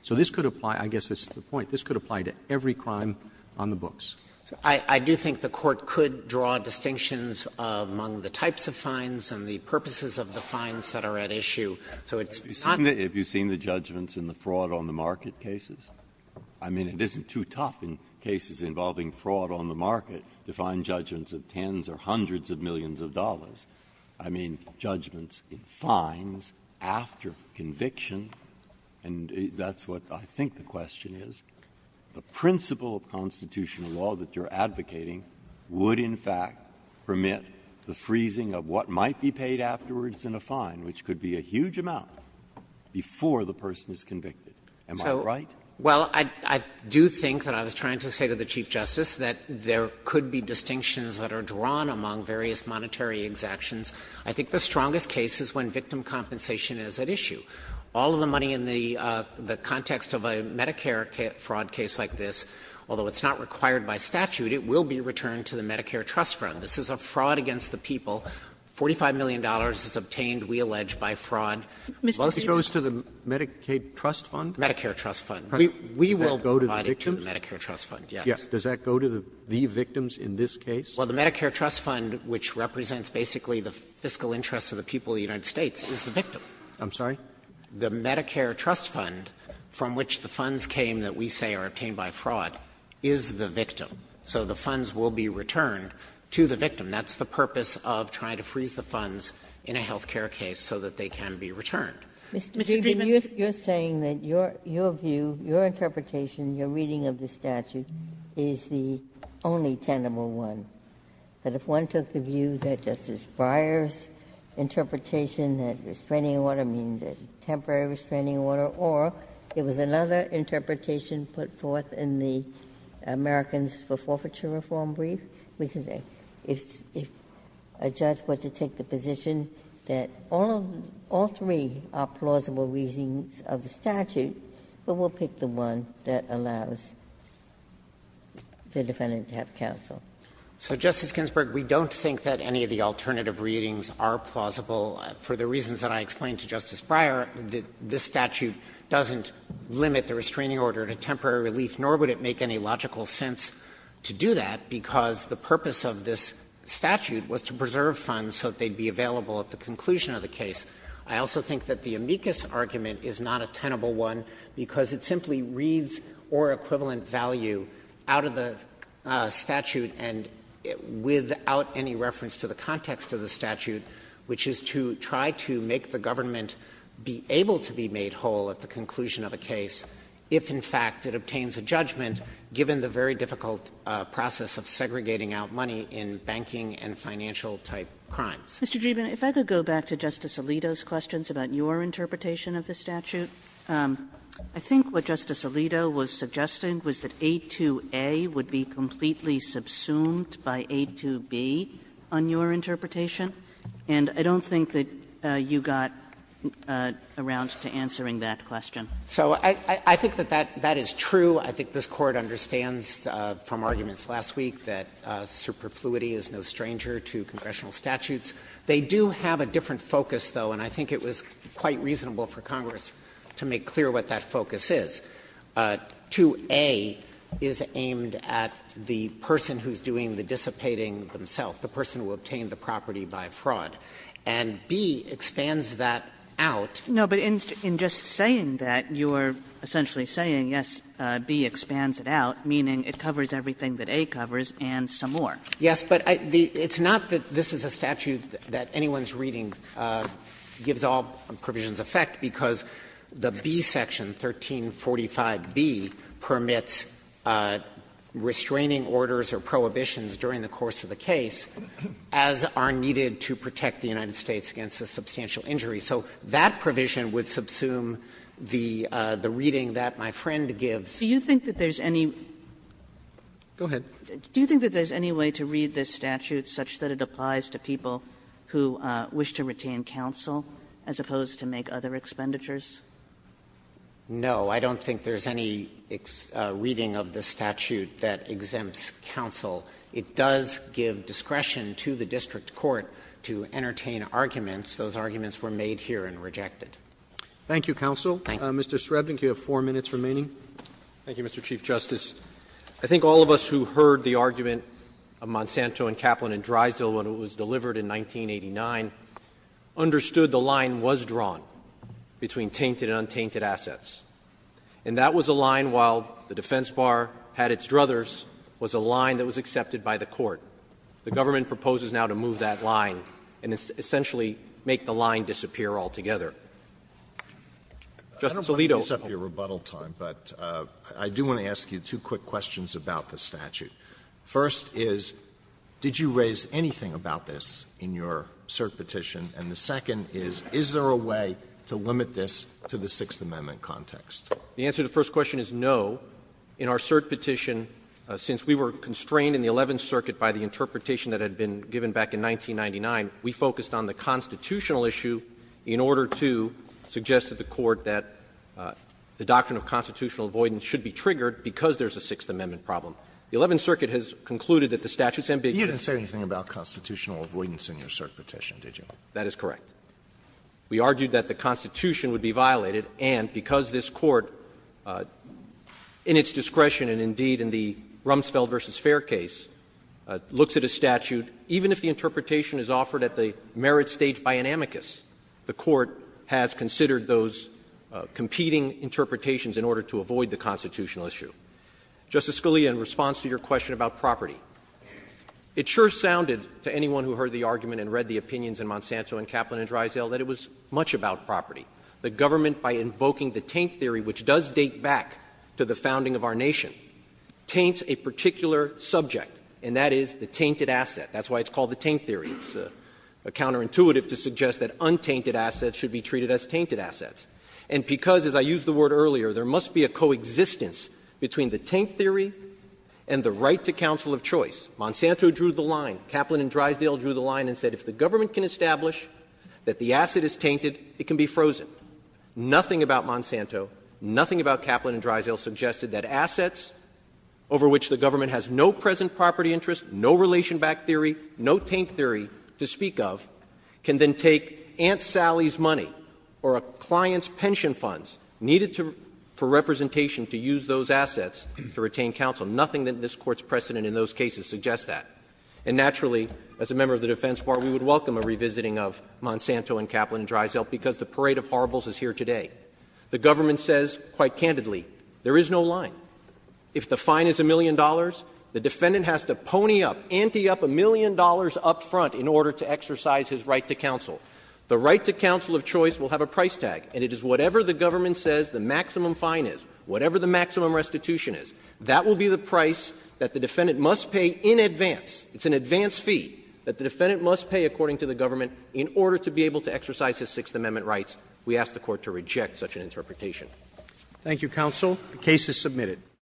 So this could apply to, I guess this is the point, this could apply to every crime on the books. Dreeben I do think the Court could draw distinctions among the types of fines and the purposes of the fines that are at issue. So it's not the case that the State government has not been able to do that. Breyer. Have you seen the judgments in the fraud on the market cases? I mean, it isn't too tough in cases involving fraud on the market to find judgments of tens or hundreds of millions of dollars. I mean, judgments in fines after conviction, and that's what I think the question is. The principle of constitutional law that you're advocating would, in fact, permit the freezing of what might be paid afterwards in a fine, which could be a huge amount, before the person is convicted. Am I right? Dreeben So, well, I do think that I was trying to say to the Chief Justice that there could be distinctions that are drawn among various monetary exactions. I think the strongest case is when victim compensation is at issue. All of the money in the context of a Medicare fraud case like this, although it's not required by statute, it will be returned to the Medicare Trust Fund. This is a fraud against the people. $45 million is obtained, we allege, by fraud. Roberts. It goes to the Medicaid Trust Fund? Medicare Trust Fund. We will provide it to the Medicare Trust Fund, yes. Does that go to the victims in this case? Well, the Medicare Trust Fund, which represents basically the fiscal interests of the people of the United States, is the victim. I'm sorry? The Medicare Trust Fund, from which the funds came that we say are obtained by fraud, is the victim. So the funds will be returned to the victim. That's the purpose of trying to freeze the funds in a health care case so that they can be returned. Mr. Dreeben, you're saying that your view, your interpretation, your reading of the statute is the only tenable one, that if one took the view that Justice Breyer's interpretation, that restraining order means a temporary restraining order, or it was another interpretation put forth in the Americans for Forfeiture Reform brief, which is if a judge were to take the position that all three are plausible reasons of the statute, but we'll pick the one that allows the defendant to have counsel. So, Justice Ginsburg, we don't think that any of the alternative readings are plausible. For the reasons that I explained to Justice Breyer, this statute doesn't limit the restraining order to temporary relief, nor would it make any logical sense to do that, because the purpose of this statute was to preserve funds so that they'd be available at the conclusion of the case. I also think that the amicus argument is not a tenable one, because it simply reads or equivalent value out of the statute and without any reference to the context of the statute, which is to try to make the government be able to be made whole at the conclusion of a case if, in fact, it obtains a judgment given the very difficult process of segregating out money in banking and financial-type crimes. Kagan. Kagan. I'm going to go to Justice Alito's questions about your interpretation of the statute. I think what Justice Alito was suggesting was that 828 would be completely subsumed by 828B on your interpretation, and I don't think that you got around to answering that question. So I think that that is true. I think this Court understands from arguments last week that superfluity is no stranger to congressional statutes. They do have a different focus, though, and I think it was quite reasonable for Congress to make clear what that focus is. 2A is aimed at the person who's doing the dissipating themselves, the person who obtained the property by fraud, and B expands that out. Kagan. No, but in just saying that, you are essentially saying, yes, B expands it out, meaning it covers everything that A covers and some more. Yes, but it's not that this is a statute that anyone's reading gives all provisions effect, because the B section, 1345B, permits restraining orders or prohibitions during the course of the case as are needed to protect the United States against a substantial injury. So that provision would subsume the reading that my friend gives. Kagan. No. I don't think there's any reading of this statute that exempts counsel. It does give discretion to the district court to entertain arguments. Those arguments were made here and rejected. Roberts. Thank you, counsel. Mr. Srebnik, you have four minutes remaining. Thank you, Mr. Chief Justice. I think all of us who heard the argument of Monsanto and Kaplan and Drysdale when it was delivered in 1989 understood the line was drawn between tainted and untainted assets. And that was a line, while the defense bar had its druthers, was a line that was accepted by the court. The government proposes now to move that line and essentially make the line disappear altogether. Justice Alito. I don't want to waste up your rebuttal time, but I do want to ask you two quick questions about the statute. First is, did you raise anything about this in your cert petition? And the second is, is there a way to limit this to the Sixth Amendment context? The answer to the first question is no. In our cert petition, since we were constrained in the Eleventh Circuit by the interpretation that had been given back in 1999, we focused on the constitutional issue in order to suggest to the Court that the doctrine of constitutional avoidance should be triggered because there's a Sixth Amendment problem. The Eleventh Circuit has concluded that the statute's ambiguous. You didn't say anything about constitutional avoidance in your cert petition, did you? That is correct. We argued that the Constitution would be violated, and because this Court, in its discretion and indeed in the Rumsfeld v. Fair case, looks at a statute, even if the Court has considered those competing interpretations in order to avoid the constitutional issue. Justice Scalia, in response to your question about property, it sure sounded to anyone who heard the argument and read the opinions in Monsanto and Kaplan v. Drysdale that it was much about property. The government, by invoking the taint theory, which does date back to the founding of our nation, taints a particular subject, and that is the tainted asset. That's why it's called the taint theory. It's counterintuitive to suggest that untainted assets should be treated as tainted assets. And because, as I used the word earlier, there must be a coexistence between the taint theory and the right to counsel of choice. Monsanto drew the line. Kaplan and Drysdale drew the line and said if the government can establish that the asset is tainted, it can be frozen. Nothing about Monsanto, nothing about Kaplan and Drysdale suggested that assets over which the government has no present property interest, no relation back theory, no taint theory to speak of, can then take Aunt Sally's money or a client's pension funds needed for representation to use those assets to retain counsel. Nothing in this Court's precedent in those cases suggests that. And naturally, as a member of the Defense Bar, we would welcome a revisiting of Monsanto and Kaplan and Drysdale because the parade of horribles is here today. The government says, quite candidly, there is no line. If the fine is a million dollars, the defendant has to pony up, ante up a million dollars up front in order to exercise his right to counsel. The right to counsel of choice will have a price tag, and it is whatever the government says the maximum fine is, whatever the maximum restitution is, that will be the price that the defendant must pay in advance. It's an advance fee that the defendant must pay, according to the government, in order to be able to exercise his Sixth Amendment rights. We ask the Court to reject such an interpretation. Roberts. Thank you, counsel. The case is submitted.